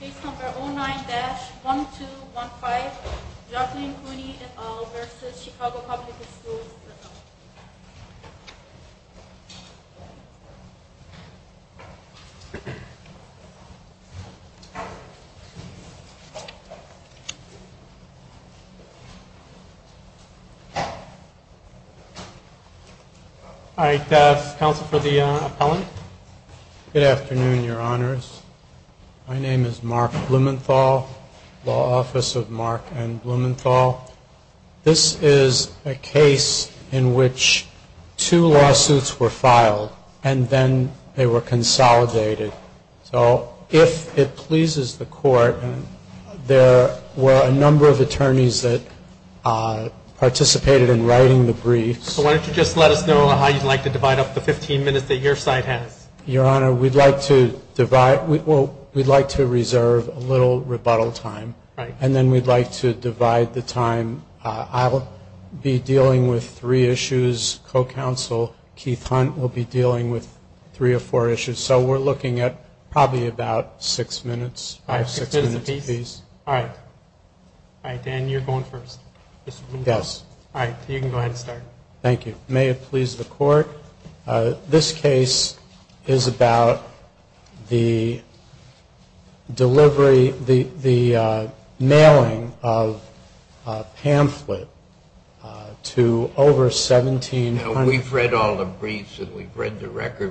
Page number 09-1215 Jocelyn Cooney, et al. v. Chicago Public Schools, et al. Good afternoon, your honors. My name is Mark Blumenthal, Law Office of Mark N. Blumenthal. This is a case in which two lawsuits were filed and then they were consolidated. So if it pleases the court, and there were a number of attorneys that participated in writing the briefs. So why don't you just let us know what the briefs were. Let us know how you'd like to divide up the 15 minutes that your side has. We've read all the briefs and we've read the record.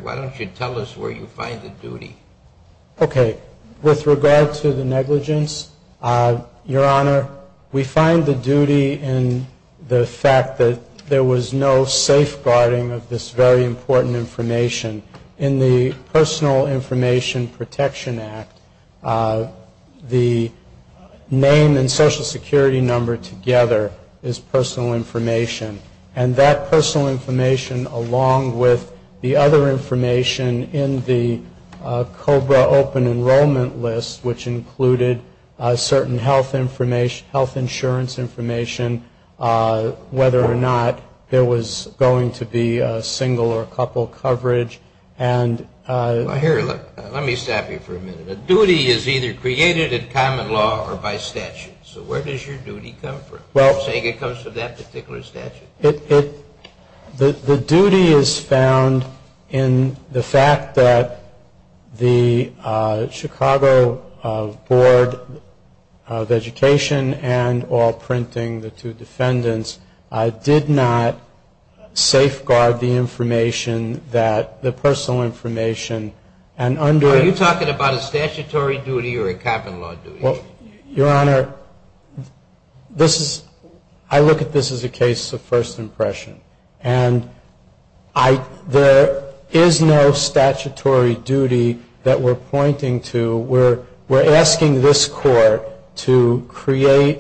Why don't you tell us where you find the duty? Okay. With regard to the negligence, your honor, we find the duty in the fact that there was no safeguarding of the briefs. There was no safeguarding of the briefs. There was no safeguarding of this very important information. In the Personal Information Protection Act, the name and Social Security number together is personal information. And that personal information, along with the other information in the COBRA Open Enrollment List, which included certain health insurance information, whether or not there was going to be social security. It was going to be going to be contingency insurance. It was going to be a single or a couple coverage. Here, let me stop you for a minute. A duty is either created in common law or by statute. So where does your duty come from? Are you saying it comes from that particular statute? The duty is found in the fact that the Chicago Board of Education and all printing, the two defendants, did not safeguard the briefs. They did not safeguard the information, the personal information. Are you talking about a statutory duty or a common law duty? Your Honor, I look at this as a case of first impression. And there is no statutory duty that we're pointing to. We're asking this Court to create.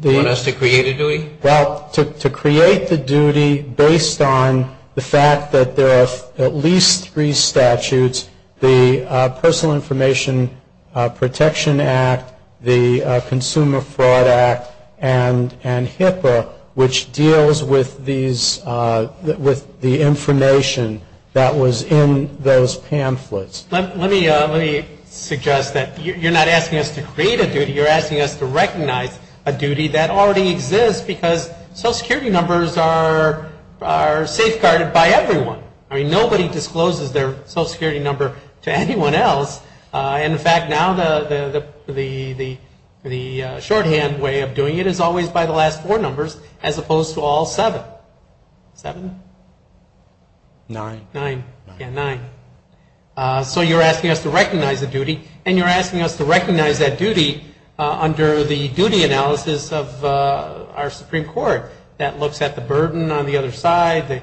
You want us to create a duty? Well, to create the duty based on the fact that there are at least three statutes, the Personal Information Protection Act, the Consumer Fraud Act, and HIPAA, which deals with these, with the information that was in those pamphlets. Let me suggest that you're not asking us to create a duty. You're asking us to recognize a duty that already exists because Social Security numbers are safeguarded by everyone. I mean, nobody discloses their Social Security number to anyone else. In fact, now the shorthand way of doing it is always by the last four numbers as opposed to all seven. Seven? Nine. Nine. Yeah, nine. So you're asking us to recognize a duty, and you're asking us to recognize that duty under the duty analysis of our Supreme Court that looks at the burden on the other side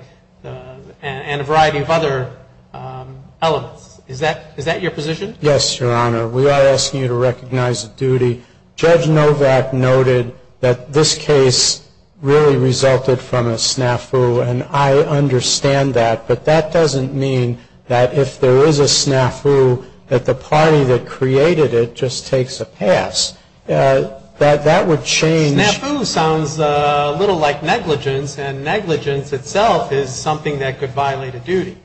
and a variety of other elements. Is that your position? Yes, Your Honor. We are asking you to recognize a duty. Judge Novak noted that this case really resulted from a snafu, an eye-opener, and that's what we're asking you to do. I understand that, but that doesn't mean that if there is a snafu, that the party that created it just takes a pass. That would change. Snafu sounds a little like negligence, and negligence itself is something that could violate a duty.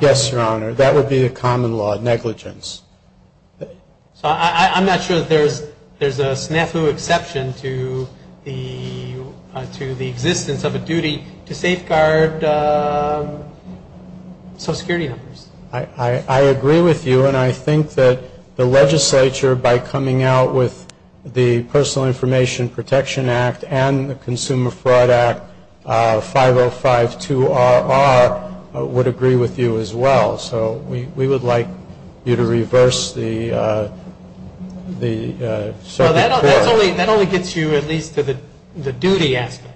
Yes, Your Honor. That would be the common law, negligence. So I'm not sure that there's a snafu exception to the existence of a duty to safeguard Social Security numbers. I agree with you, and I think that the legislature, by coming out with the Personal Information Protection Act and the Consumer Fraud Act, 5052RR, would agree with you as well. So we would like you to reverse the Supreme Court. Well, that only gets you at least to the duty aspect.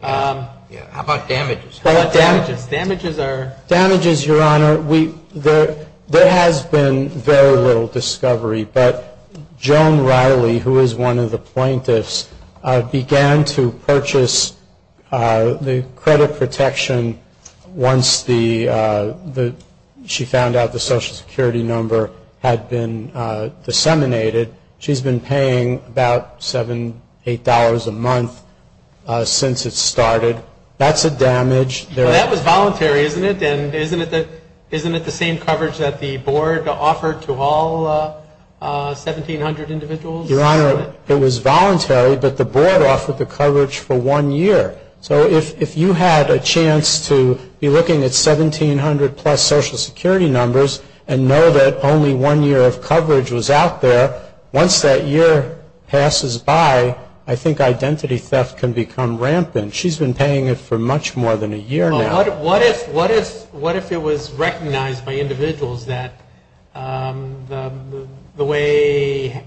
How about damages? Damages, Your Honor, there has been very little discovery, but Joan Riley, who is one of the plaintiffs, began to purchase the credit protection once the Social Security number had been disseminated. She's been paying about $7, $8 a month since it started. That's a damage. Well, that was voluntary, isn't it? And isn't it the same coverage that the Board offered to all 1,700 individuals? Your Honor, it was voluntary, but the Board offered the coverage for one year. So if you had a chance to be looking at 1,700-plus Social Security numbers and know that only one year of coverage was out there, once that year passes by, I think identity theft can become rampant. She's been paying it for much more than a year now. Well, what if it was recognized by individuals that the way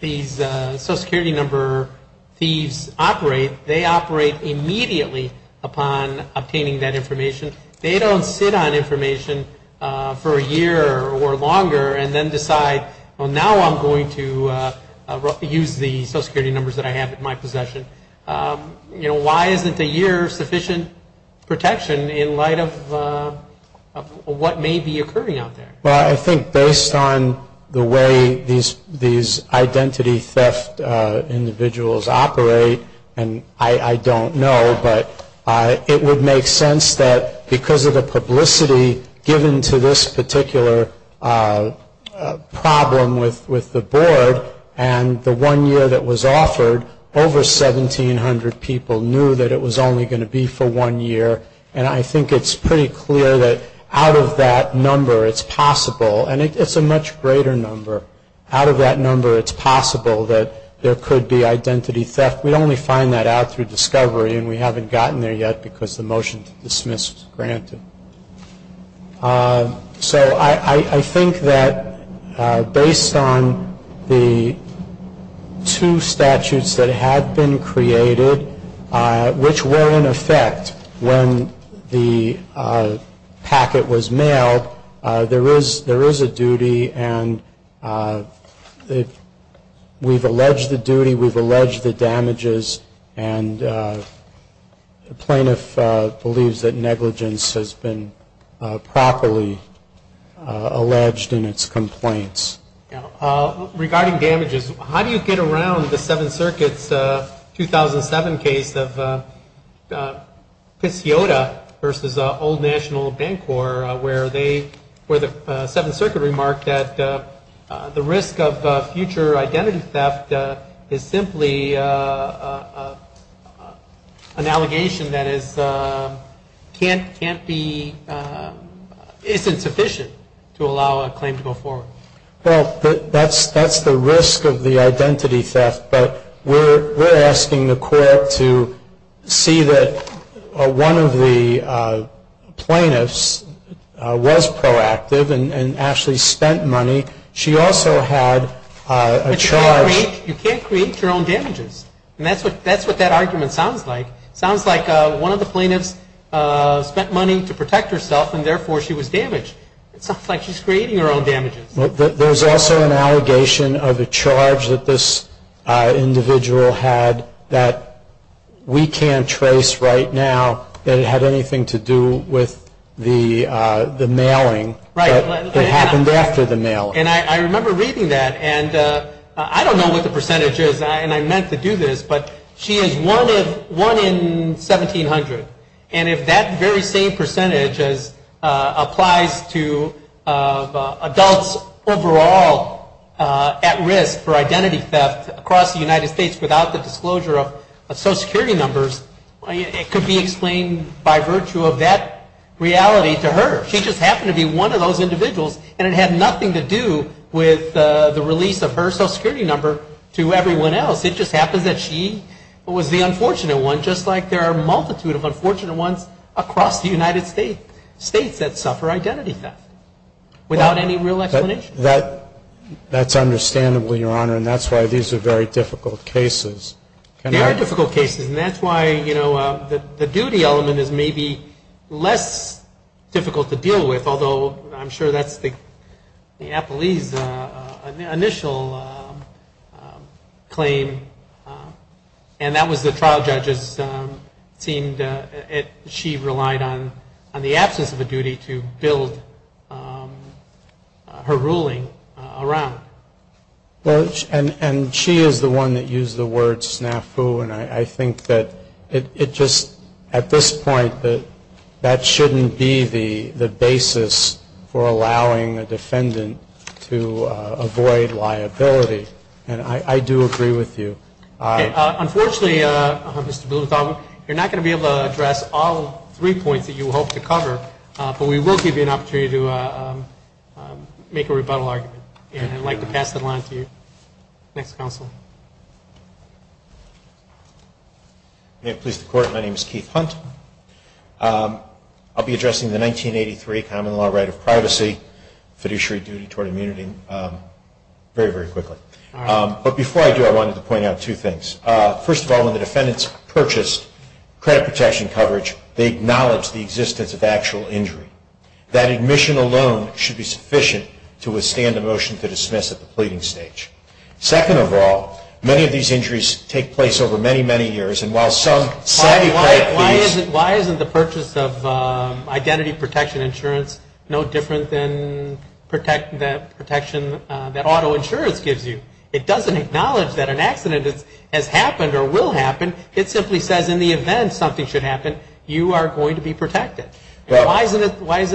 these Social Security number thieves operate, that they're not going to get away with it? They operate immediately upon obtaining that information. They don't sit on information for a year or longer and then decide, well, now I'm going to use the Social Security numbers that I have in my possession. You know, why isn't a year sufficient protection in light of what may be occurring out there? Well, I think based on the way these identity theft individuals operate and identify themselves, they're going to get away with it. I don't know, but it would make sense that because of the publicity given to this particular problem with the Board and the one year that was offered, over 1,700 people knew that it was only going to be for one year. And I think it's pretty clear that out of that number it's possible, and it's a much greater number, out of that number it's possible that there could be identity theft. We'd only find that out through discovery, and we haven't gotten there yet because the motion to dismiss was granted. So I think that based on the two statutes that have been created, which were in effect when the packet was mailed, there is a duty, and we've alleged the duty, we've alleged the damage, and we've alleged the damage. And the plaintiff believes that negligence has been properly alleged in its complaints. Regarding damages, how do you get around the Seventh Circuit's 2007 case of Pissiota versus Old National Bancorp, where they, where the Seventh Circuit remarked that the risk of future identity theft is simply a matter of time. Is that an allegation that is, can't be, isn't sufficient to allow a claim to go forward? Well, that's the risk of the identity theft, but we're asking the court to see that one of the plaintiffs was proactive and actually spent money. She also had a charge. But you can't create, you can't create your own damages. And that's what, that's what that argument sounds like. It sounds like one of the plaintiffs spent money to protect herself, and therefore she was damaged. It sounds like she's creating her own damages. There's also an allegation of a charge that this individual had that we can't trace right now that it had anything to do with the mailing that happened after the mailing. And I remember reading that, and I don't know what the percentage is, and I meant to do this, but she is one of, one in 1,700. And if that very same percentage applies to adults over the age of 18, then she is one in 1,700. Now, she was overall at risk for identity theft across the United States without the disclosure of Social Security numbers. It could be explained by virtue of that reality to her. She just happened to be one of those individuals, and it had nothing to do with the release of her Social Security number to everyone else. It just happens that she was the unfortunate one, just like there are a multitude of unfortunate ones across the United States, states that suffer identity theft without any real explanation. That's understandable, Your Honor, and that's why these are very difficult cases. They are difficult cases, and that's why, you know, the duty element is maybe less difficult to deal with, although I'm sure that's the appellee's initial claim. And that was the trial judge's, seemed, she relied on the absence of a duty to build the case. And she was the one that put her ruling around. And she is the one that used the word snafu, and I think that it just, at this point, that that shouldn't be the basis for allowing a defendant to avoid liability. And I do agree with you. Unfortunately, Mr. Blumenthal, you're not going to be able to address all three points that you hope to cover, but we will give you an opportunity to make a rebuttal argument, and I'd like to pass that along to you. Next counsel. May it please the Court, my name is Keith Hunt. I'll be addressing the 1983 common law right of privacy, fiduciary duty toward immunity, very, very quickly. But before I do, I wanted to point out two things. First of all, when the defendants purchase credit protection coverage, they acknowledge the existence of actual injury. That admission alone should be sufficient to withstand a motion to dismiss at the pleading stage. Second of all, many of these injuries take place over many, many years, and while some savvy credit please. Why isn't the purchase of identity protection insurance no different than the protection that auto insurance gives you? It doesn't acknowledge that an accident has happened or will happen. It simply says in the event something should happen, you are going to be protected. Why isn't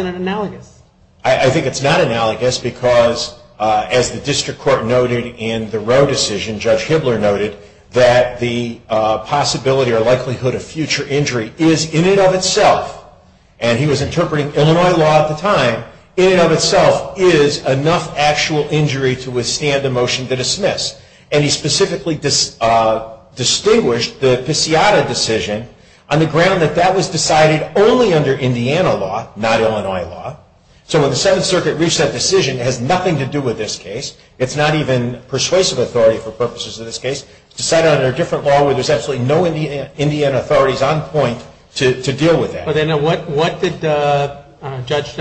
it analogous? I think it's not analogous because, as the district court noted in the Roe decision, Judge Hibbler noted, that the possibility or likelihood of future injury is, in and of itself, and he was interpreting Illinois law at the time, in and of itself is enough actual injury to withstand a motion to dismiss. And he specifically distinguished the Pisciata decision on the ground that that was decided only under Indiana law, not Illinois law. So when the Seventh Circuit reached that decision, it has nothing to do with this case. It's not even persuasive authority for purposes of this case. It's decided under a different law where there's absolutely no Indian authorities on point to deal with that. Then what did Judge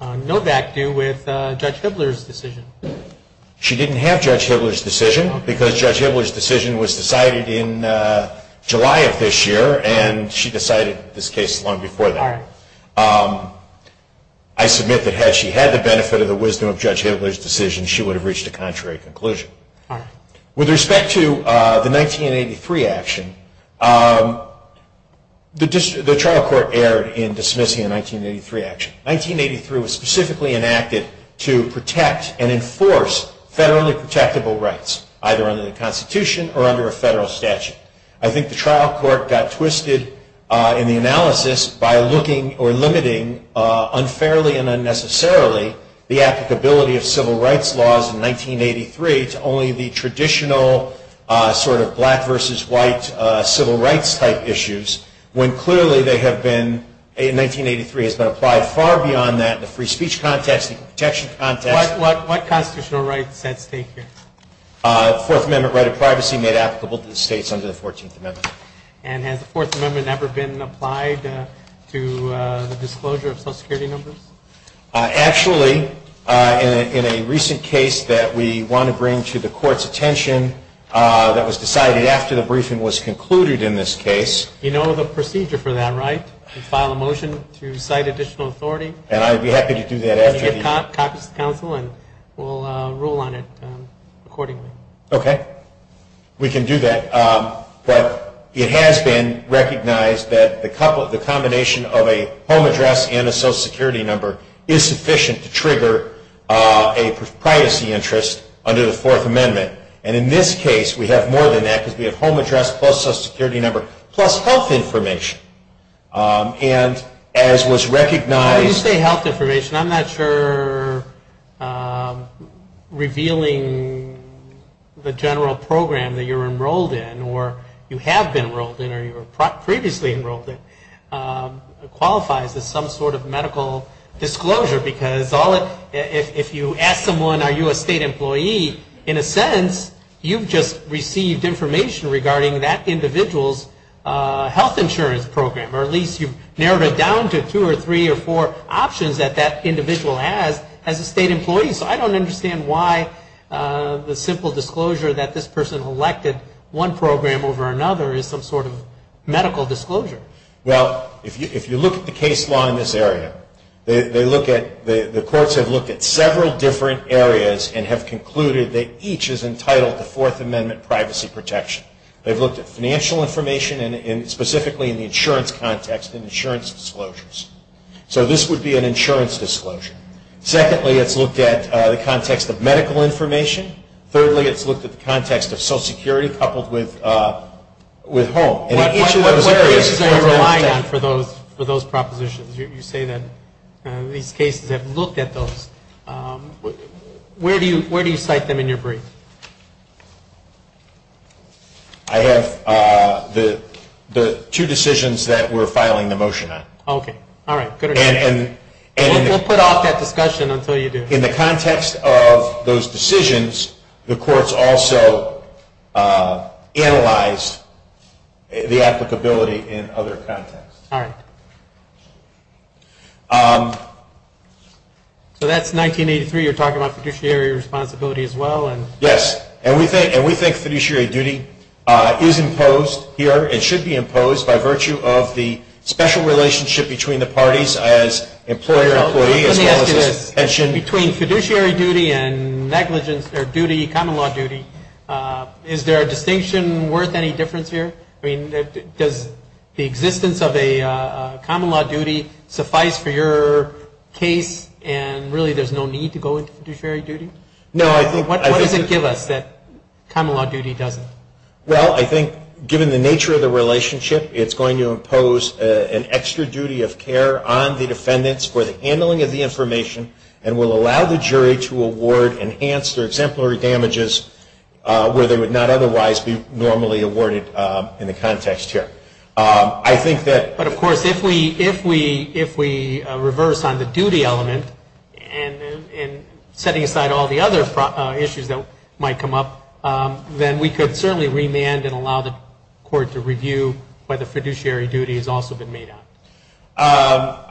Novak do with Judge Hibbler's decision? She didn't have Judge Hibbler's decision because Judge Hibbler's decision was decided in July of this year, and she decided this case long before that. I submit that had she had the benefit of the wisdom of Judge Hibbler's decision, she would have reached a contrary conclusion. With respect to the 1983 action, the trial court erred in dismissing the 1983 action. 1983 was specifically enacted to protect and enforce federally protectable rights, either under the Constitution or under a federal statute. I think the trial court got twisted in the analysis by limiting unfairly and unnecessarily the applicability of civil rights laws in 1983 to only the traditional sort of black versus white civil rights type issues, when clearly they have been, in 1983, has been applied far beyond that in the free speech context, the equal protection context. What constitutional rights at stake here? Fourth Amendment right of privacy made applicable to the states under the 14th Amendment. And has the Fourth Amendment ever been applied to the disclosure of social security numbers? Actually, in a recent case that we want to bring to the court's attention that was decided after the briefing was concluded in this case. You know the procedure for that, right? You file a motion to cite additional authority. And I'd be happy to do that. And you get copies to the council and we'll rule on it accordingly. Okay. We can do that. But it has been recognized that the combination of a home address and a social security number is sufficient to trigger a privacy interest under the Fourth Amendment. And in this case we have more than that because we have home address plus social security number plus health information. And as was recognized... When you say health information, I'm not sure revealing the general program that you're enrolled in or you have been enrolled in or you were previously enrolled in qualifies as some sort of medical disclosure. Because if you ask someone are you a state employee, in a sense you've just received information regarding that individual's health insurance program or at least you've narrowed it down to two or three or four options that that individual has as a state employee. So I don't understand why the simple disclosure that this person elected one program over another is some sort of medical disclosure. Well, if you look at the case law in this area, the courts have looked at several different areas and have concluded that each is entitled to Fourth Amendment privacy protection. They've looked at financial information and specifically in the insurance context and insurance disclosures. So this would be an insurance disclosure. Secondly, it's looked at the context of medical information. Thirdly, it's looked at the context of social security coupled with home. What areas are you relying on for those propositions? You say that these cases have looked at those. Where do you cite them in your brief? I have the two decisions that we're filing the motion on. Okay. All right. Good. We'll put off that discussion until you do. In the context of those decisions, the courts also analyzed the applicability in other contexts. All right. So that's 1983. You're talking about fiduciary responsibility as well. Yes. And we think fiduciary duty is imposed here and should be imposed by virtue of the special relationship between the parties as employer and employee as well as pension. Between fiduciary duty and negligence or duty, common law duty, is there a distinction worth any difference here? I mean, does the existence of a common law duty suffice for your case and really there's no need to go into fiduciary duty? What does it give us that common law duty doesn't? Well, I think given the nature of the relationship, it's going to impose an extra duty of care on the defendants for the handling of the information and will allow the jury to award enhanced or exemplary damages where they would not otherwise be normally awarded in the context here. But of course, if we reverse on the duty element and setting aside all the other issues that might come up, then we could certainly remand and allow the court to review whether fiduciary duty has also been made up.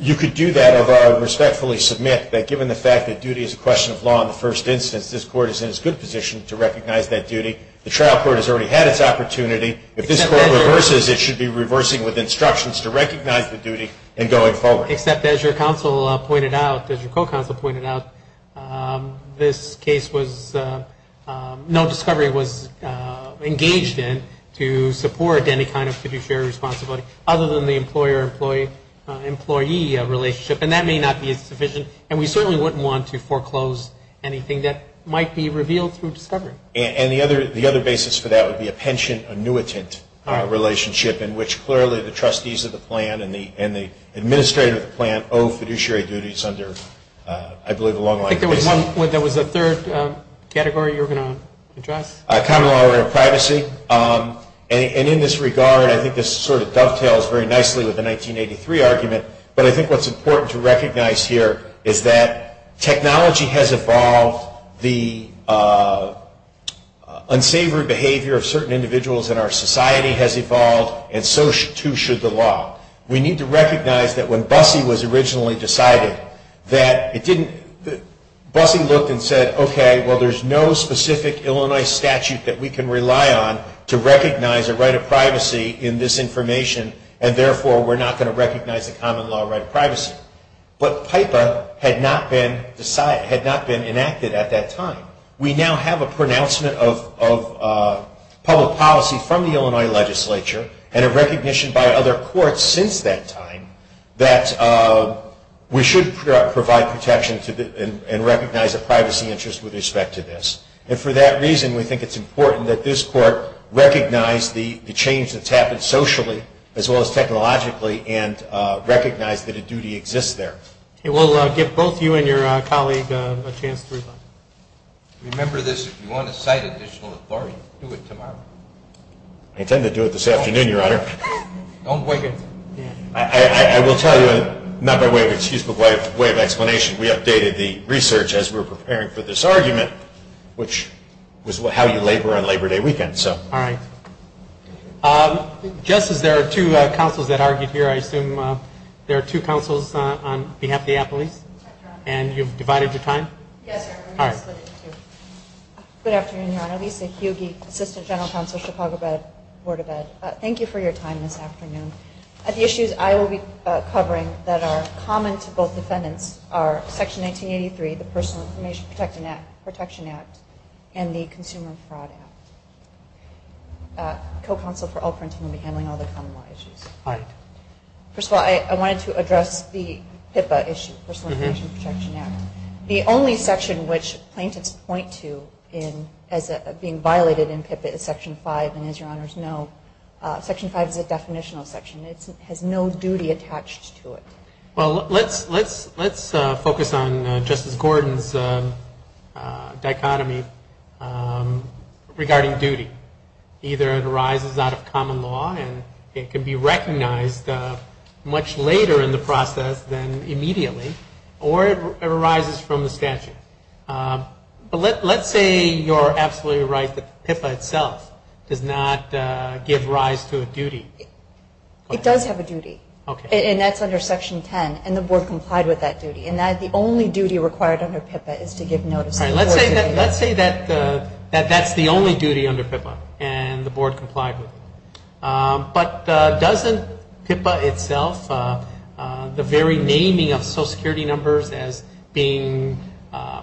You could do that if I respectfully submit that given the fact that duty is a question of law in the first instance, this court is in a good position to recognize that duty. The trial court has already had its opportunity. If this court reverses, it should be reversing with instructions to recognize the duty and going forward. Except as your counsel pointed out, as your co-counsel pointed out, this case was no discovery was engaged in to support any kind of fiduciary responsibility other than the employer-employee relationship. And that may not be sufficient, and we certainly wouldn't want to foreclose anything that might be revealed through discovery. And the other basis for that would be a pension annuitant relationship in which clearly the trustees of the plan and the administrator of the plan owe fiduciary duties under I believe a long line of cases. I think there was a third category you were going to address. Common law and privacy. And in this regard, I think this sort of dovetails very nicely with the 1983 argument, but I think what's important to recognize here is that technology has evolved, the unsavory behavior of certain individuals in our society has evolved, and so too should the law. We need to recognize that when BUSSE was originally decided, BUSSE looked and said, okay, well, there's no specific Illinois statute that we can rely on to recognize a right of privacy in this information, and therefore we're not going to recognize the common law right of privacy. But PIPA had not been enacted at that time. We now have a pronouncement of public policy from the Illinois legislature and a recognition by other courts since that time that we should provide protection and recognize a privacy interest with respect to this. And for that reason, we think it's important that this court recognize the change that's happened socially as well as technologically and recognize that a duty exists there. We'll give both you and your colleague a chance to respond. Remember this, if you want to cite additional authority, do it tomorrow. I intend to do it this afternoon, Your Honor. I will tell you, not by way of excuse, but by way of explanation, we updated the research as we were preparing for this argument, which was how you labor on Labor Day weekend. Just as there are two counsels that argued here, I assume there are two counsels on behalf of the appellees, and you've divided your time? Yes, Your Honor. Good afternoon, Your Honor. Lisa Hugie, Assistant General Counsel, Chicago Board of Ed. Thank you for your time this afternoon. The issues I will be covering that are common to both defendants are Section 1983, the Personal Information Protection Act, and the Consumer Fraud Act. The co-counsel for all parties will be handling all the common law issues. All right. First of all, I wanted to address the PIPA issue, Personal Information Protection Act. The only section which plaintiffs point to as being violated in PIPA is Section 5, and as Your Honors know, Section 5 is a definitional section. It has no duty attached to it. Well, let's focus on Justice Gordon's dichotomy regarding duty. Either it arises out of common law, and it can be recognized much later in the process than immediately, or it arises from the statute. But let's say you're absolutely right that the PIPA itself does not give rise to a duty. It does have a duty. Okay. And that's under Section 10, and the Board complied with that duty. And that is the only duty required under PIPA is to give notice. All right. Let's say that that's the only duty under PIPA, and the Board complied with it. But doesn't PIPA itself, the very naming of Social Security numbers as being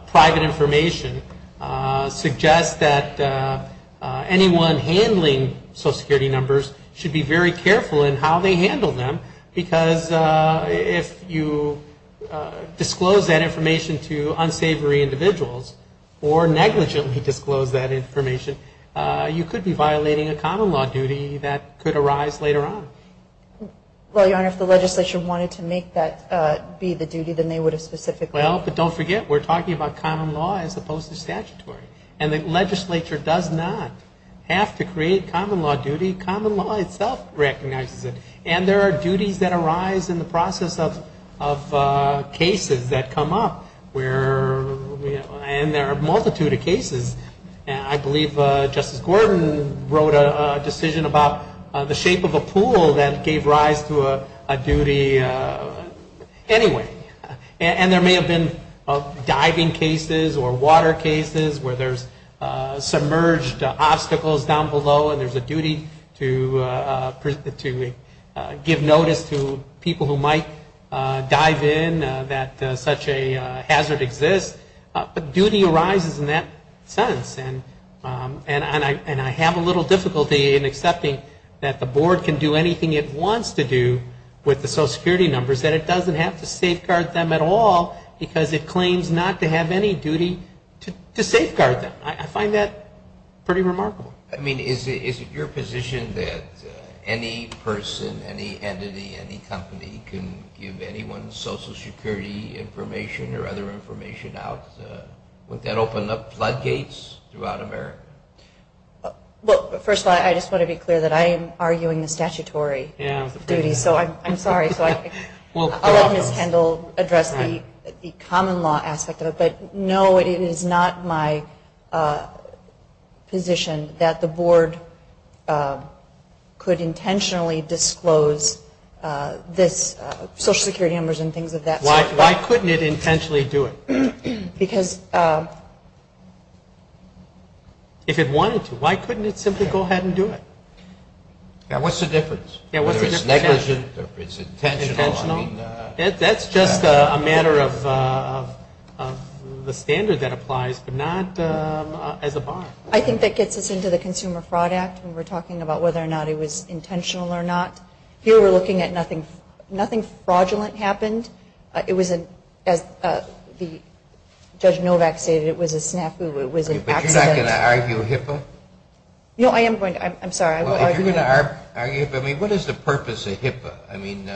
private information, suggest that anyone handling Social Security numbers should be very careful in how they handle them? Because if you disclose that information to unsavory individuals, or negligently disclose that information, you could be violating a common law duty that could arise later on. Well, Your Honor, if the legislature wanted to make that be the duty, then they would have specifically Well, but don't forget, we're talking about common law as opposed to statutory. And the legislature does not have to create common law duty. Common law itself recognizes it. And there are duties that arise in the process of cases that come up, and there are a multitude of cases. I believe Justice Gordon wrote a decision about the shape of a pool that gave rise to a duty. Anyway. And there may have been diving cases or water cases where there's submerged obstacles down below, and there's a duty to give notice to people who might dive in that such a hazard exists. But duty arises in that sense. And I have a little difficulty in accepting that the Board can do anything it wants to do with the Social Security numbers that it doesn't have to safeguard them at all because it claims not to have any duty to safeguard them. I find that pretty remarkable. I mean, is it your position that any person, any entity, any company can give anyone Social Security information or other information out? Would that open up floodgates throughout America? Well, first of all, I just want to be clear that I am arguing the statutory duty. So I'm sorry. So I'll let Ms. Kendall address the common law aspect of it. But, no, it is not my position that the Board could intentionally disclose this Social Security numbers and things of that sort. Why couldn't it intentionally do it? Because if it wanted to, why couldn't it simply go ahead and do it? What's the difference? Whether it's negligent or it's intentional. That's just a matter of the standard that applies, but not as a bar. I think that gets us into the Consumer Fraud Act when we're talking about whether or not it was intentional or not. Here we're looking at nothing fraudulent happened. It was, as Judge Novak stated, it was a snafu. But you're not going to argue HIPAA? No, I am going to. I'm sorry. If you're going to argue HIPAA, I mean, what is the purpose of HIPAA? I mean,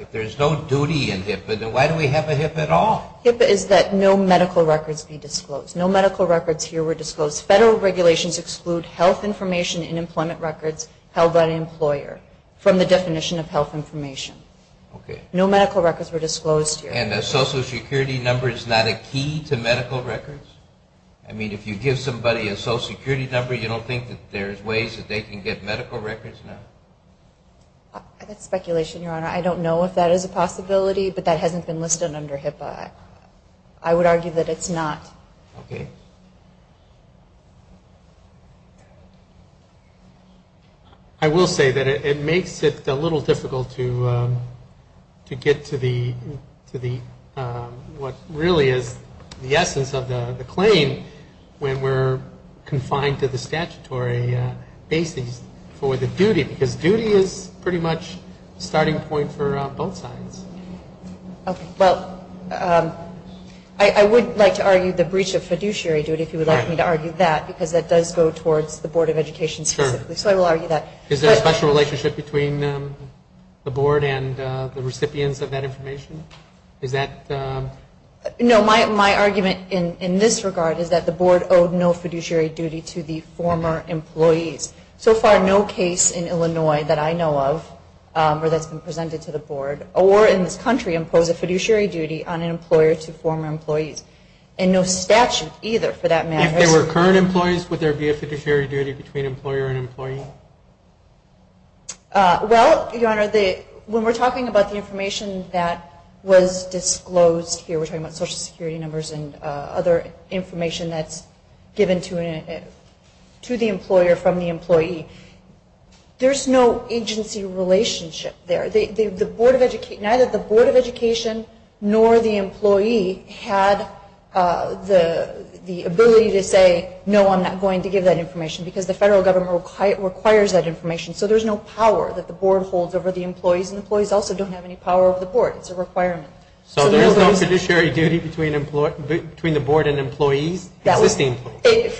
if there's no duty in HIPAA, then why do we have a HIPAA at all? HIPAA is that no medical records be disclosed. No medical records here were disclosed. Federal regulations exclude health information and employment records held by an employer from the definition of health information. Okay. No medical records were disclosed here. And a Social Security number is not a key to medical records? I mean, if you give somebody a Social Security number, you don't think that there's ways that they can get medical records now? That's speculation, Your Honor. I don't know if that is a possibility, but that hasn't been listed under HIPAA. I would argue that it's not. Okay. I will say that it makes it a little difficult to get to what really is the essence of the claim when we're confined to the statutory basis for the duty, because duty is pretty much the starting point for both sides. Okay. Well, I would like to argue the breach of fiduciary duty if you would like me to argue that, because that does go towards the Board of Education specifically. Sure. So I will argue that. Is there a special relationship between the Board and the recipients of that information? Is that? No, my argument in this regard is that the Board owed no fiduciary duty to the former employees. So far, no case in Illinois that I know of or that's been presented to the Board or in this country impose a fiduciary duty on an employer to former employees, and no statute either for that matter. If they were current employees, would there be a fiduciary duty between employer and employee? Well, Your Honor, when we're talking about the information that was disclosed here, we're talking about Social Security numbers and other information that's given to the employer from the employee, there's no agency relationship there. Neither the Board of Education nor the employee had the ability to say, no, I'm not going to give that information because the federal government requires that information. So there's no power that the Board holds over the employees, and employees also don't have any power over the Board. It's a requirement. So there's no fiduciary duty between the Board and employees? For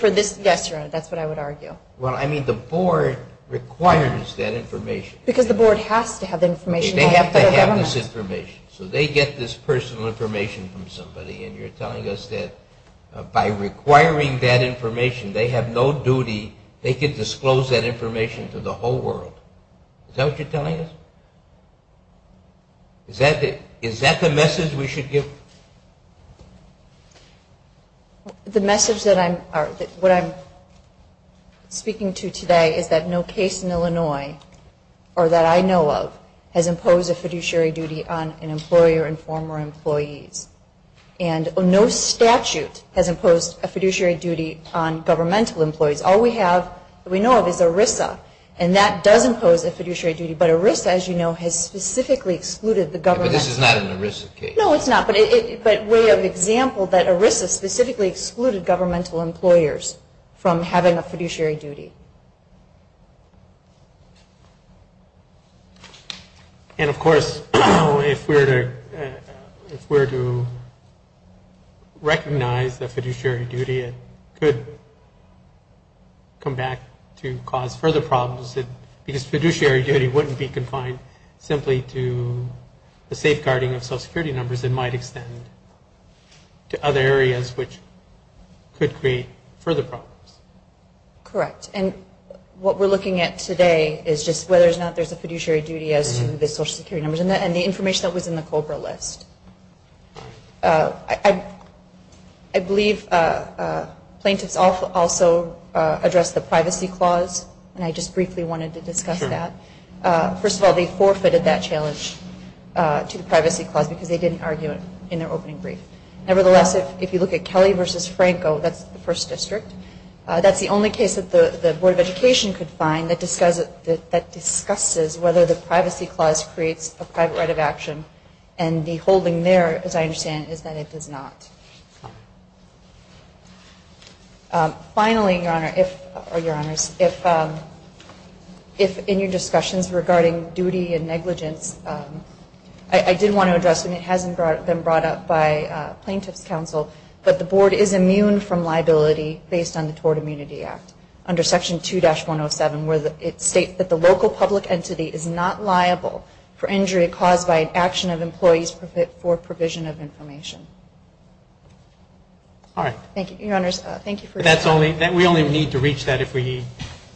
this, yes, Your Honor, that's what I would argue. Well, I mean the Board requires that information. Because the Board has to have information from the federal government. They have to have this information. So they get this personal information from somebody, and you're telling us that by requiring that information they have no duty, they can disclose that information to the whole world. Is that what you're telling us? Is that the message we should give? The message that I'm speaking to today is that no case in Illinois, or that I know of, has imposed a fiduciary duty on an employer and former employees. And no statute has imposed a fiduciary duty on governmental employees. All we have, we know of, is ERISA. And that does impose a fiduciary duty. But ERISA, as you know, has specifically excluded the government. But this is not an ERISA case. No, it's not. But way of example that ERISA specifically excluded governmental employers from having a fiduciary duty. And, of course, if we were to recognize the fiduciary duty, it could come back to cause further problems. Because fiduciary duty wouldn't be confined simply to the safeguarding of self-security numbers. It might extend to other areas which could create further problems. Correct. And what we're looking at today is just whether or not there's a fiduciary duty as to the social security numbers and the information that was in the COBRA list. I believe plaintiffs also addressed the privacy clause. And I just briefly wanted to discuss that. First of all, they forfeited that challenge to the privacy clause because they didn't argue it in their opening brief. Nevertheless, if you look at Kelly v. Franco, that's the first district, that's the only case that the Board of Education could find that discusses whether the privacy clause creates a private right of action. And the holding there, as I understand it, is that it does not. Finally, Your Honor, if in your discussions regarding duty and negligence, I did want to address, and it hasn't been brought up by plaintiffs' counsel, but the Board is immune from liability based on the Tort Immunity Act under Section 2-107 where it states that the local public entity is not liable for injury caused by an action of employees for provision of information. All right. Thank you. We only need to reach that if we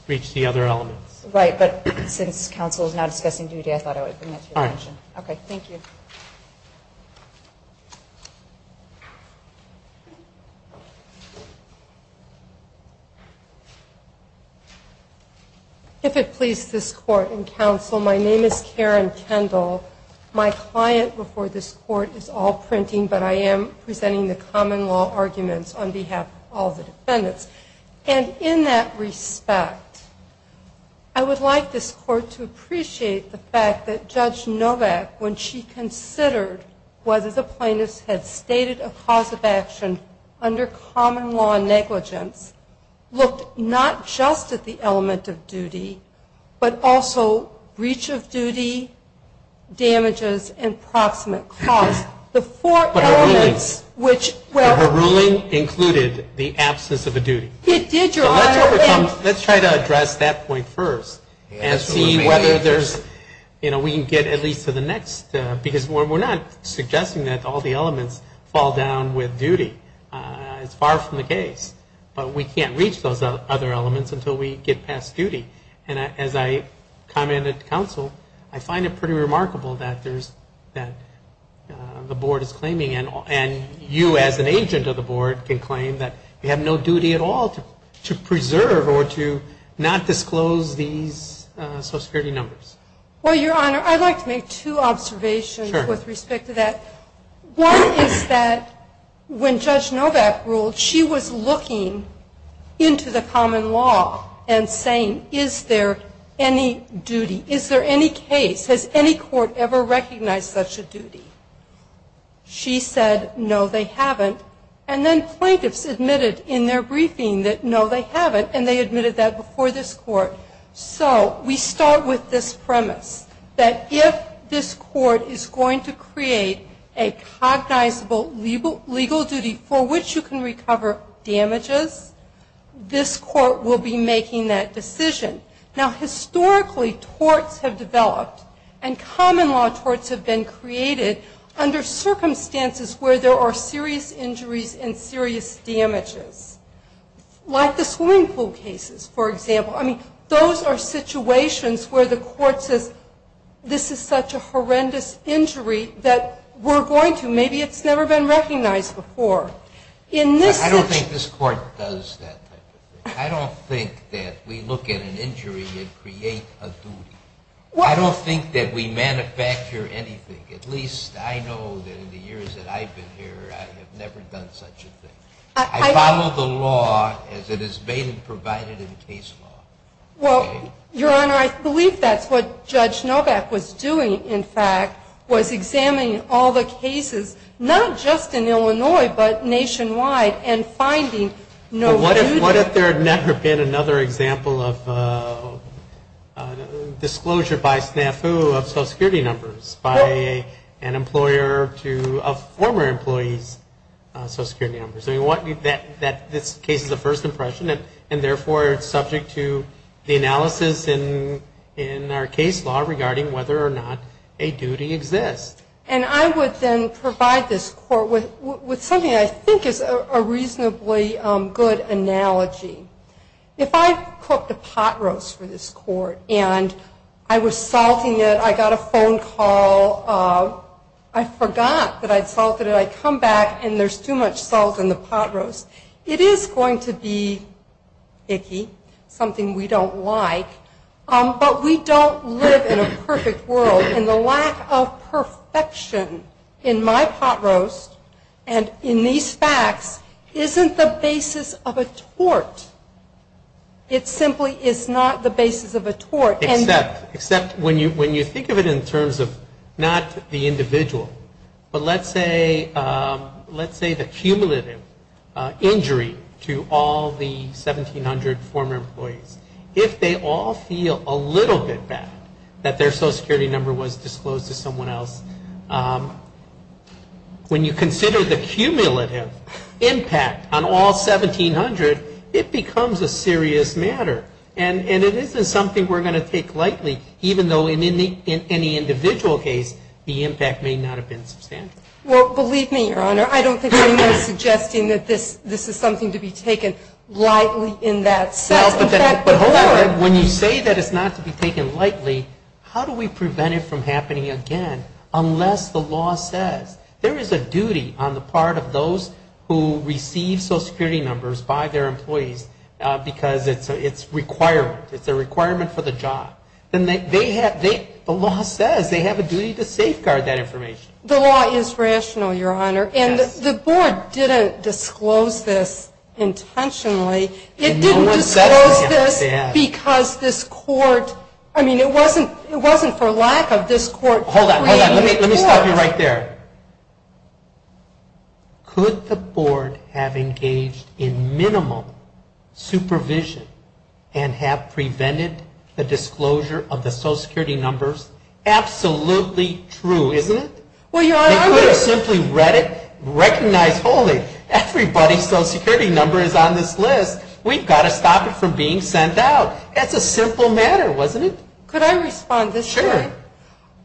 reach the other elements. Right. But since counsel is now discussing duty, I thought I would bring that to your attention. All right. Okay. Thank you. If it please this Court and counsel, my name is Karen Kendall. My client before this Court is all printing, but I am presenting the common law arguments on behalf of all the defendants. And in that respect, I would like this Court to appreciate the fact that Judge Novak, when she considered whether the plaintiffs had stated a cause of action under common law negligence, looked not just at the element of duty, but also breach of duty, damages, and proximate cause. But her ruling included the absence of a duty. It did, Your Honor. Let's try to address that point first and see whether there's, you know, we can get at least to the next, because we're not suggesting that all the elements fall down with duty. It's far from the case. But we can't reach those other elements until we get past duty. And as I commented to counsel, I find it pretty remarkable that the Board is claiming, and you as an agent of the Board can claim that you have no duty at all to preserve or to not disclose these social security numbers. Well, Your Honor, I'd like to make two observations with respect to that. One is that when Judge Novak ruled, that she was looking into the common law and saying, is there any duty, is there any case, has any court ever recognized such a duty? She said, no, they haven't. And then plaintiffs admitted in their briefing that, no, they haven't, and they admitted that before this Court. So we start with this premise, that if this Court is going to create a cognizable legal duty for which you can recover damages, this Court will be making that decision. Now, historically, torts have developed, and common law torts have been created under circumstances where there are serious injuries and serious damages. Like the swimming pool cases, for example. I mean, those are situations where the Court says, this is such a horrendous injury that we're going to, maybe it's never been recognized before. I don't think this Court does that type of thing. I don't think that we look at an injury and create a duty. I don't think that we manufacture anything. At least I know that in the years that I've been here, I have never done such a thing. I follow the law as it has been provided in case law. Well, Your Honor, I believe that's what Judge Novak was doing, in fact, was examining all the cases, not just in Illinois, but nationwide, and finding no duty. But what if there had never been another example of disclosure by snafu of social security numbers by an employer to a former employee's social security numbers? I mean, this case is a first impression, and therefore it's subject to the analysis in our case law regarding whether or not a duty exists. And I would then provide this Court with something I think is a reasonably good analogy. If I cooked a pot roast for this Court and I was salting it, I got a phone call, I forgot that I'd salted it, I come back and there's too much salt in the pot roast, it is going to be icky, something we don't like. But we don't live in a perfect world, and the lack of perfection in my pot roast and in these facts isn't the basis of a tort. It simply is not the basis of a tort. Except when you think of it in terms of not the individual, but let's say the cumulative injury to all the 1,700 former employees, if they all feel a little bit bad that their social security number was disclosed to someone else, when you consider the cumulative impact on all 1,700, it becomes a serious matter. And it isn't something we're going to take lightly, even though in any individual case the impact may not have been substantial. Well, believe me, Your Honor, I don't think anyone is suggesting that this is something to be taken lightly in that sense. But, however, when you say that it's not to be taken lightly, how do we prevent it from happening again unless the law says there is a duty on the part of those who receive social security numbers by their employees because it's a requirement. It's a requirement for the job. The law says they have a duty to safeguard that information. The law is rational, Your Honor. And the board didn't disclose this intentionally. It didn't disclose this because this court, I mean, it wasn't for lack of this court. Hold on, hold on. Let me stop you right there. Could the board have engaged in minimal supervision and have prevented the disclosure of the social security numbers? Absolutely true, isn't it? Well, Your Honor, I'm just... They could have simply read it, recognized, everybody's social security number is on this list. We've got to stop it from being sent out. That's a simple matter, wasn't it? Could I respond to this, Your Honor? Sure.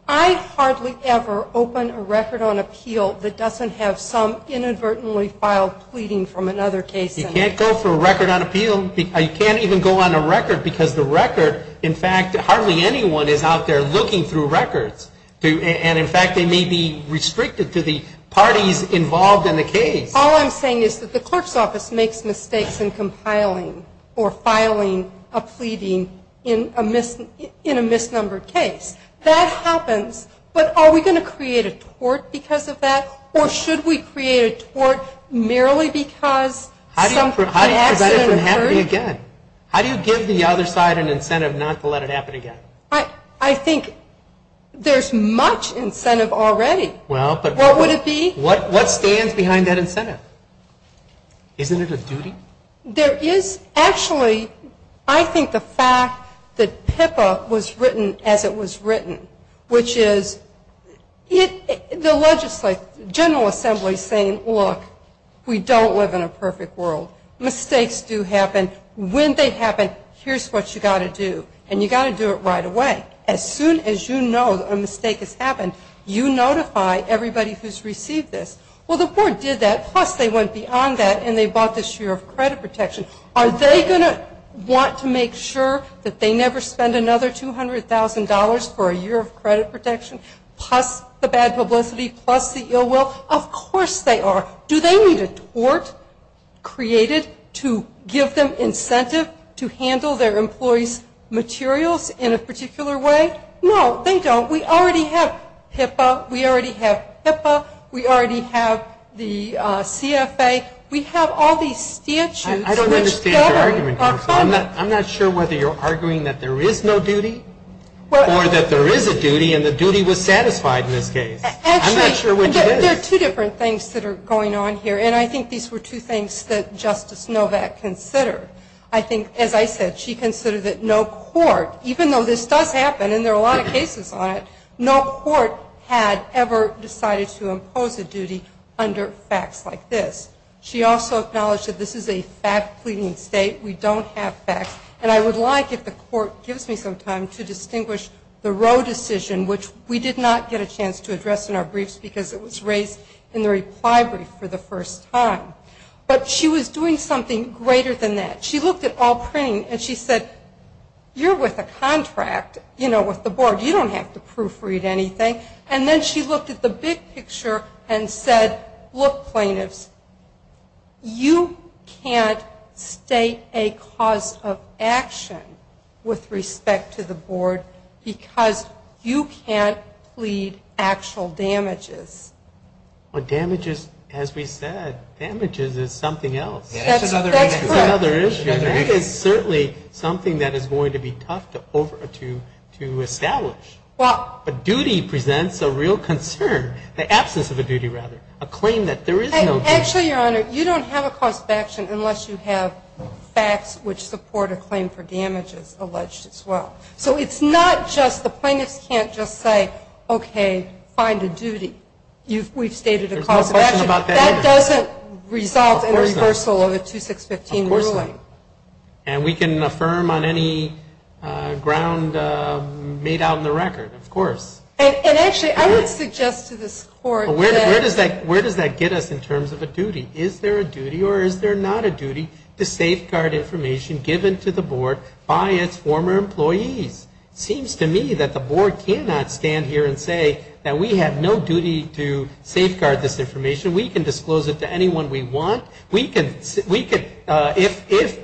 I hardly ever open a record on appeal that doesn't have some inadvertently filed pleading from another case. You can't go for a record on appeal. You can't even go on a record because the record, in fact, hardly anyone is out there looking through records. And, in fact, they may be restricted to the parties involved in the case. All I'm saying is that the clerk's office makes mistakes in compiling or filing a pleading in a misnumbered case. That happens, but are we going to create a tort because of that, or should we create a tort merely because the accident occurred? How do you prevent it from happening again? How do you give the other side an incentive not to let it happen again? I think there's much incentive already. What would it be? What stands behind that incentive? Isn't it a duty? There is actually, I think, the fact that PIPA was written as it was written, which is the general assembly saying, look, we don't live in a perfect world. Mistakes do happen. When they happen, here's what you've got to do. And you've got to do it right away. As soon as you know a mistake has happened, you notify everybody who's received this. Well, the board did that, plus they went beyond that, and they bought this year of credit protection. Are they going to want to make sure that they never spend another $200,000 for a year of credit protection, plus the bad publicity, plus the ill will? Of course they are. Do they need a tort created to give them incentive to handle their employees' materials in a particular way? No, they don't. We already have PIPA. We already have PIPA. We already have the CFA. We have all these statutes. I don't understand your argument. I'm not sure whether you're arguing that there is no duty or that there is a duty and the duty was satisfied in this case. I'm not sure which it is. There are two different things that are going on here. And I think these were two things that Justice Novak considered. I think, as I said, she considered that no court, even though this does happen and there are a lot of cases on it, no court had ever decided to impose a duty under facts like this. She also acknowledged that this is a fact-pleading state. We don't have facts. And I would like, if the court gives me some time, to distinguish the Roe decision, which we did not get a chance to address in our briefs because it was raised in the reply brief for the first time. But she was doing something greater than that. She looked at all printing and she said, you're with a contract, you know, with the board. You don't have to proofread anything. And then she looked at the big picture and said, look, plaintiffs, you can't state a cause of action with respect to the board because you can't plead actual damages. Well, damages, as we said, damages is something else. That's another issue. That is certainly something that is going to be tough to establish. But duty presents a real concern, the absence of a duty rather, a claim that there is no duty. Actually, Your Honor, you don't have a cause of action unless you have facts which support a claim for damages alleged as well. So it's not just the plaintiffs can't just say, okay, find a duty. We've stated a cause of action. There's no question about that either. That doesn't result in a reversal of a 2615 ruling. Of course not. And we can affirm on any ground made out in the record, of course. And actually, I would suggest to this Court that. Where does that get us in terms of a duty? Is there a duty or is there not a duty to safeguard information given to the board by its former employees? It seems to me that the board cannot stand here and say that we have no duty to safeguard this information. We can disclose it to anyone we want. If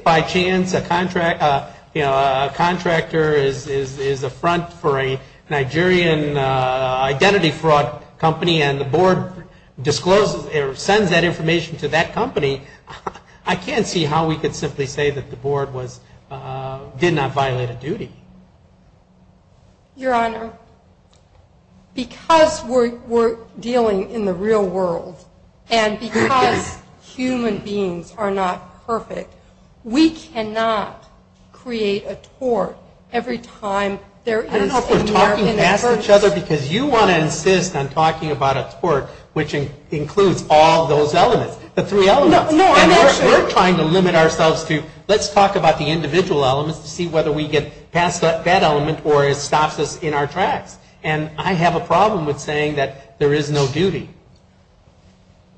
by chance a contractor is a front for a Nigerian identity fraud company and the board discloses or sends that information to that company, I can't see how we could simply say that the board did not violate a duty. Your Honor, because we're dealing in the real world and because human beings are not perfect, we cannot create a tort every time there is an American person. I don't know if we're talking past each other because you want to insist on talking about a tort, which includes all those elements, the three elements. No, I'm not sure. We're trying to limit ourselves to let's talk about the individual elements to see whether we get past that element or it stops us in our tracks. And I have a problem with saying that there is no duty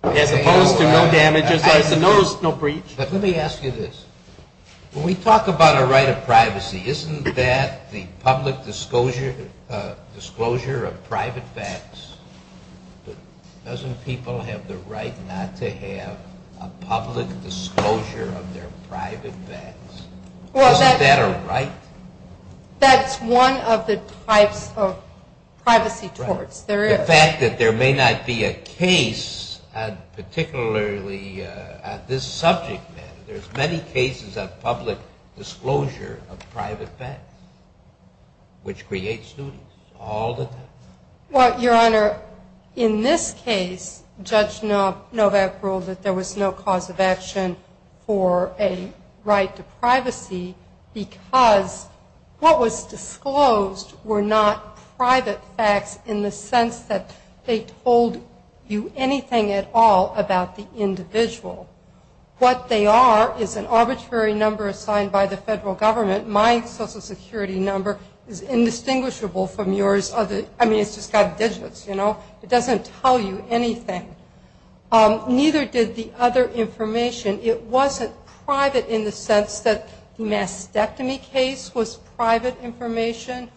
as opposed to no damage. There's no breach. Let me ask you this. When we talk about a right of privacy, isn't that the public disclosure of private facts? Doesn't people have the right not to have a public disclosure of their private facts? Isn't that a right? That's one of the types of privacy torts. The fact that there may not be a case, particularly at this subject matter, there's many cases of public disclosure of private facts, which creates duties all the time. Well, Your Honor, in this case, Judge Novak ruled that there was no cause of action for a right to privacy because what was disclosed were not private facts in the sense that they told you anything at all about the individual. What they are is an arbitrary number assigned by the federal government. My Social Security number is indistinguishable from yours. I mean, it's just got digits, you know. It doesn't tell you anything. Neither did the other information. It wasn't private in the sense that the mastectomy case was private information,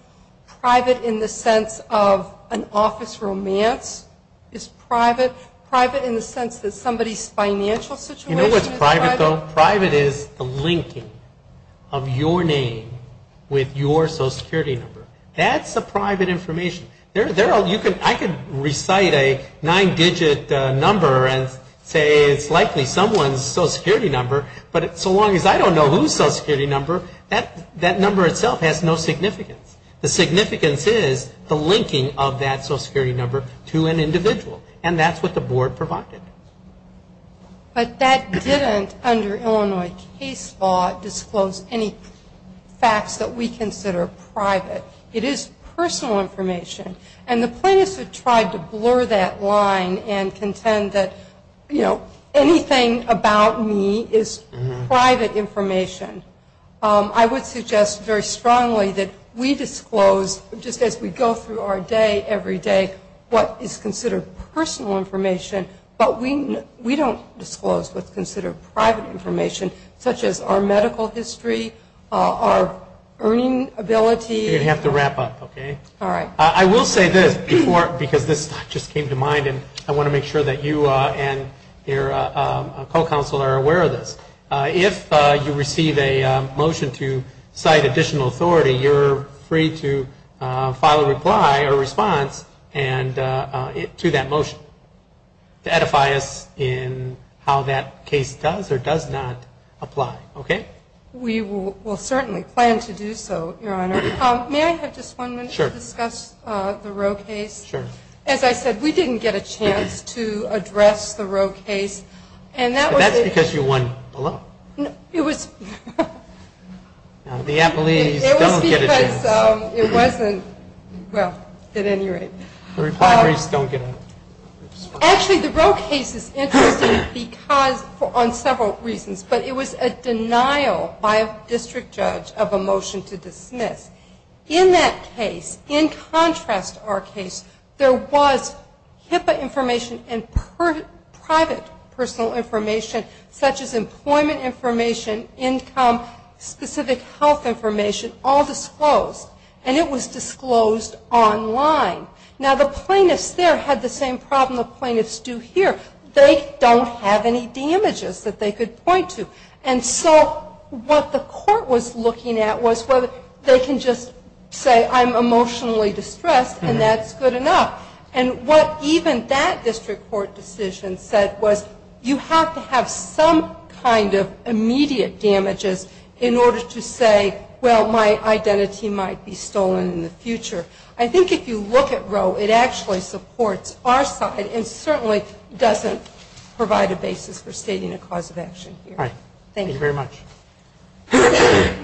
private in the sense of an office romance is private, private in the sense that somebody's financial situation is private. You know what's private, though? Private is the linking of your name with your Social Security number. That's the private information. I could recite a nine-digit number and say it's likely someone's Social Security number, but so long as I don't know whose Social Security number, that number itself has no significance. The significance is the linking of that Social Security number to an individual, and that's what the Board provided. But that didn't, under Illinois case law, disclose any facts that we consider private. It is personal information. And the plaintiffs have tried to blur that line and contend that, you know, anything about me is private information. I would suggest very strongly that we disclose, just as we go through our day every day, what is considered personal information, but we don't disclose what's considered private information, such as our medical history, our earning ability. You're going to have to wrap up, okay? All right. I will say this, because this just came to mind, and I want to make sure that you and your co-counsel are aware of this. If you receive a motion to cite additional authority, you're free to file a reply or response to that motion to edify us in how that case does or does not apply, okay? We will certainly plan to do so, Your Honor. May I have just one minute to discuss the Roe case? Sure. As I said, we didn't get a chance to address the Roe case. That's because you won below. No. It was because it wasn't, well, at any rate. The repliaries don't get a response. Actually, the Roe case is interesting on several reasons, but it was a denial by a district judge of a motion to dismiss. In that case, in contrast to our case, there was HIPAA information and private personal information, such as employment information, income, specific health information, all disclosed, and it was disclosed online. Now, the plaintiffs there had the same problem the plaintiffs do here. They don't have any damages that they could point to. And so what the court was looking at was whether they can just say, I'm emotionally distressed and that's good enough. And what even that district court decision said was you have to have some kind of immediate damages in order to say, well, my identity might be stolen in the future. I think if you look at Roe, it actually supports our side and certainly doesn't provide a basis for stating a cause of action here. All right. Thank you. Thank you very much.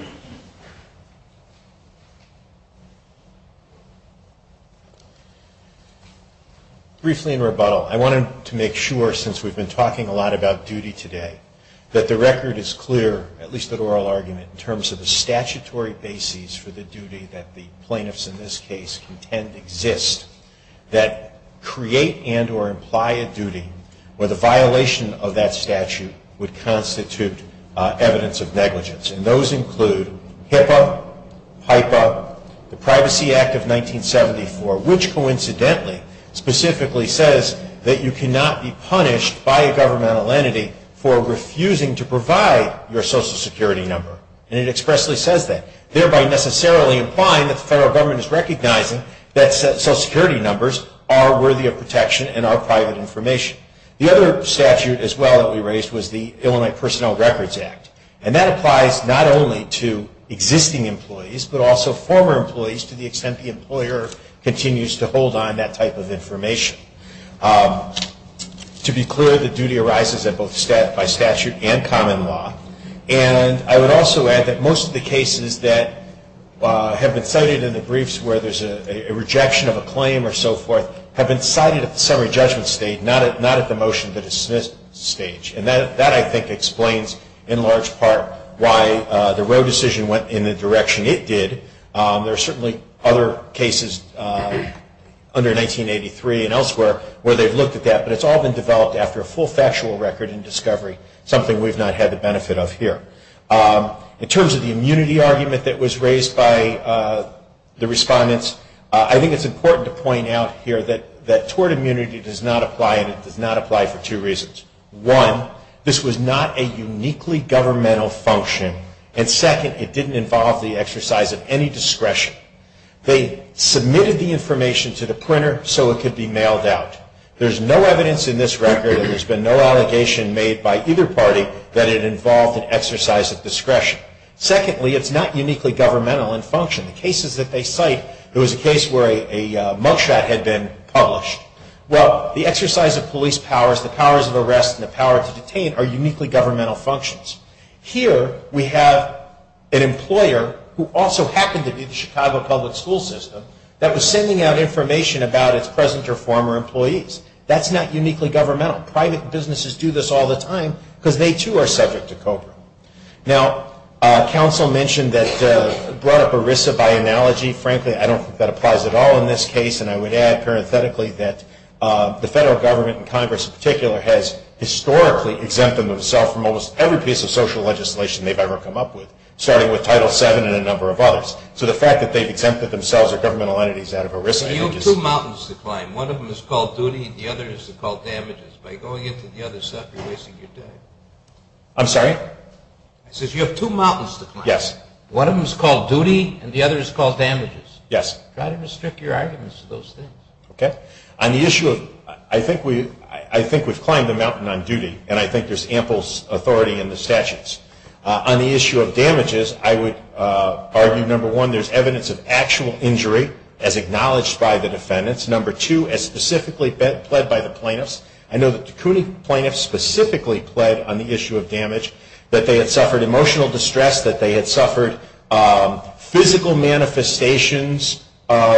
Briefly in rebuttal, I wanted to make sure, since we've been talking a lot about duty today, that the record is clear, at least at oral argument, in terms of the statutory basis for the duty that the plaintiffs in this case contend exist, that create and or imply a duty where the violation of that statute would constitute evidence of negligence. And those include HIPAA, PIPA, the Privacy Act of 1974, which coincidentally specifically says that you cannot be punished by a governmental entity for refusing to provide your Social Security number. And it expressly says that, thereby necessarily implying that the federal government is recognizing that Social Security numbers are worthy of protection and are private information. The other statute as well that we raised was the Illinois Personnel Records Act. And that applies not only to existing employees, but also former employees, to the extent the employer continues to hold on that type of information. To be clear, the duty arises at both by statute and common law. And I would also add that most of the cases that have been cited in the briefs where there's a rejection of a claim or so forth, have been cited at the summary judgment stage, not at the motion to dismiss stage. And that, I think, explains in large part why the Roe decision went in the direction it did. There are certainly other cases under 1983 and elsewhere where they've looked at that, but it's all been developed after a full factual record and discovery, something we've not had the benefit of here. In terms of the immunity argument that was raised by the respondents, I think it's important to point out here that tort immunity does not apply, and it does not apply for two reasons. One, this was not a uniquely governmental function. And second, it didn't involve the exercise of any discretion. They submitted the information to the printer so it could be mailed out. There's no evidence in this record, and there's been no allegation made by either party, that it involved an exercise of discretion. Secondly, it's not uniquely governmental in function. The cases that they cite, there was a case where a mug shot had been published. Well, the exercise of police powers, the powers of arrest, and the power to detain are uniquely governmental functions. Here we have an employer who also happened to be the Chicago public school system that was sending out information about its present or former employees. That's not uniquely governmental. Private businesses do this all the time because they, too, are subject to COBRA. Now, counsel mentioned that, brought up ERISA by analogy. Frankly, I don't think that applies at all in this case, and I would add parenthetically that the federal government and Congress in particular has historically exempted themselves from almost every piece of social legislation they've ever come up with, starting with Title VII and a number of others. So the fact that they've exempted themselves or governmental entities out of ERISA. You have two mountains to climb. One of them is called duty and the other is called damages. By going into the other stuff, you're wasting your time. I'm sorry? I said you have two mountains to climb. Yes. One of them is called duty and the other is called damages. Yes. Try to restrict your arguments to those things. Okay. On the issue of – I think we've climbed the mountain on duty, and I think there's ample authority in the statutes. On the issue of damages, I would argue, number one, there's evidence of actual injury, as acknowledged by the defendants. Number two, as specifically pled by the plaintiffs. I know that the CUNY plaintiffs specifically pled on the issue of damage, that they had suffered emotional distress, that they had suffered physical manifestations that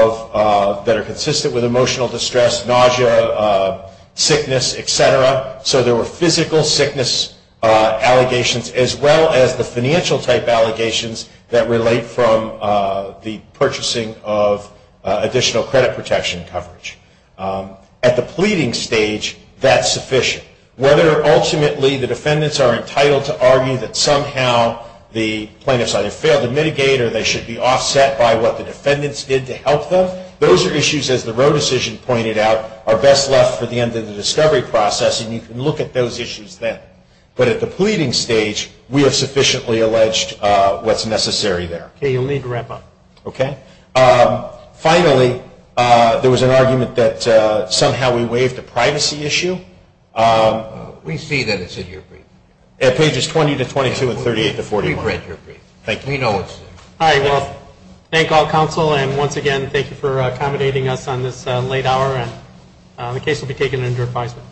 are consistent with emotional distress, nausea, sickness, et cetera. So there were physical sickness allegations as well as the financial type allegations that relate from the purchasing of additional credit protection coverage. At the pleading stage, that's sufficient. Whether ultimately the defendants are entitled to argue that somehow the plaintiffs either failed to mitigate or they should be offset by what the defendants did to help them, those are issues, as the Roe decision pointed out, are best left for the end of the discovery process, and you can look at those issues then. But at the pleading stage, we have sufficiently alleged what's necessary there. Okay. You'll need to wrap up. Okay. Finally, there was an argument that somehow we waived the privacy issue. We see that it's in your brief. At pages 20 to 22 and 38 to 41. We've read your brief. Thank you. We know it's there. All right. Well, thank all counsel, and once again, thank you for accommodating us on this late hour, and the case will be taken into advisement.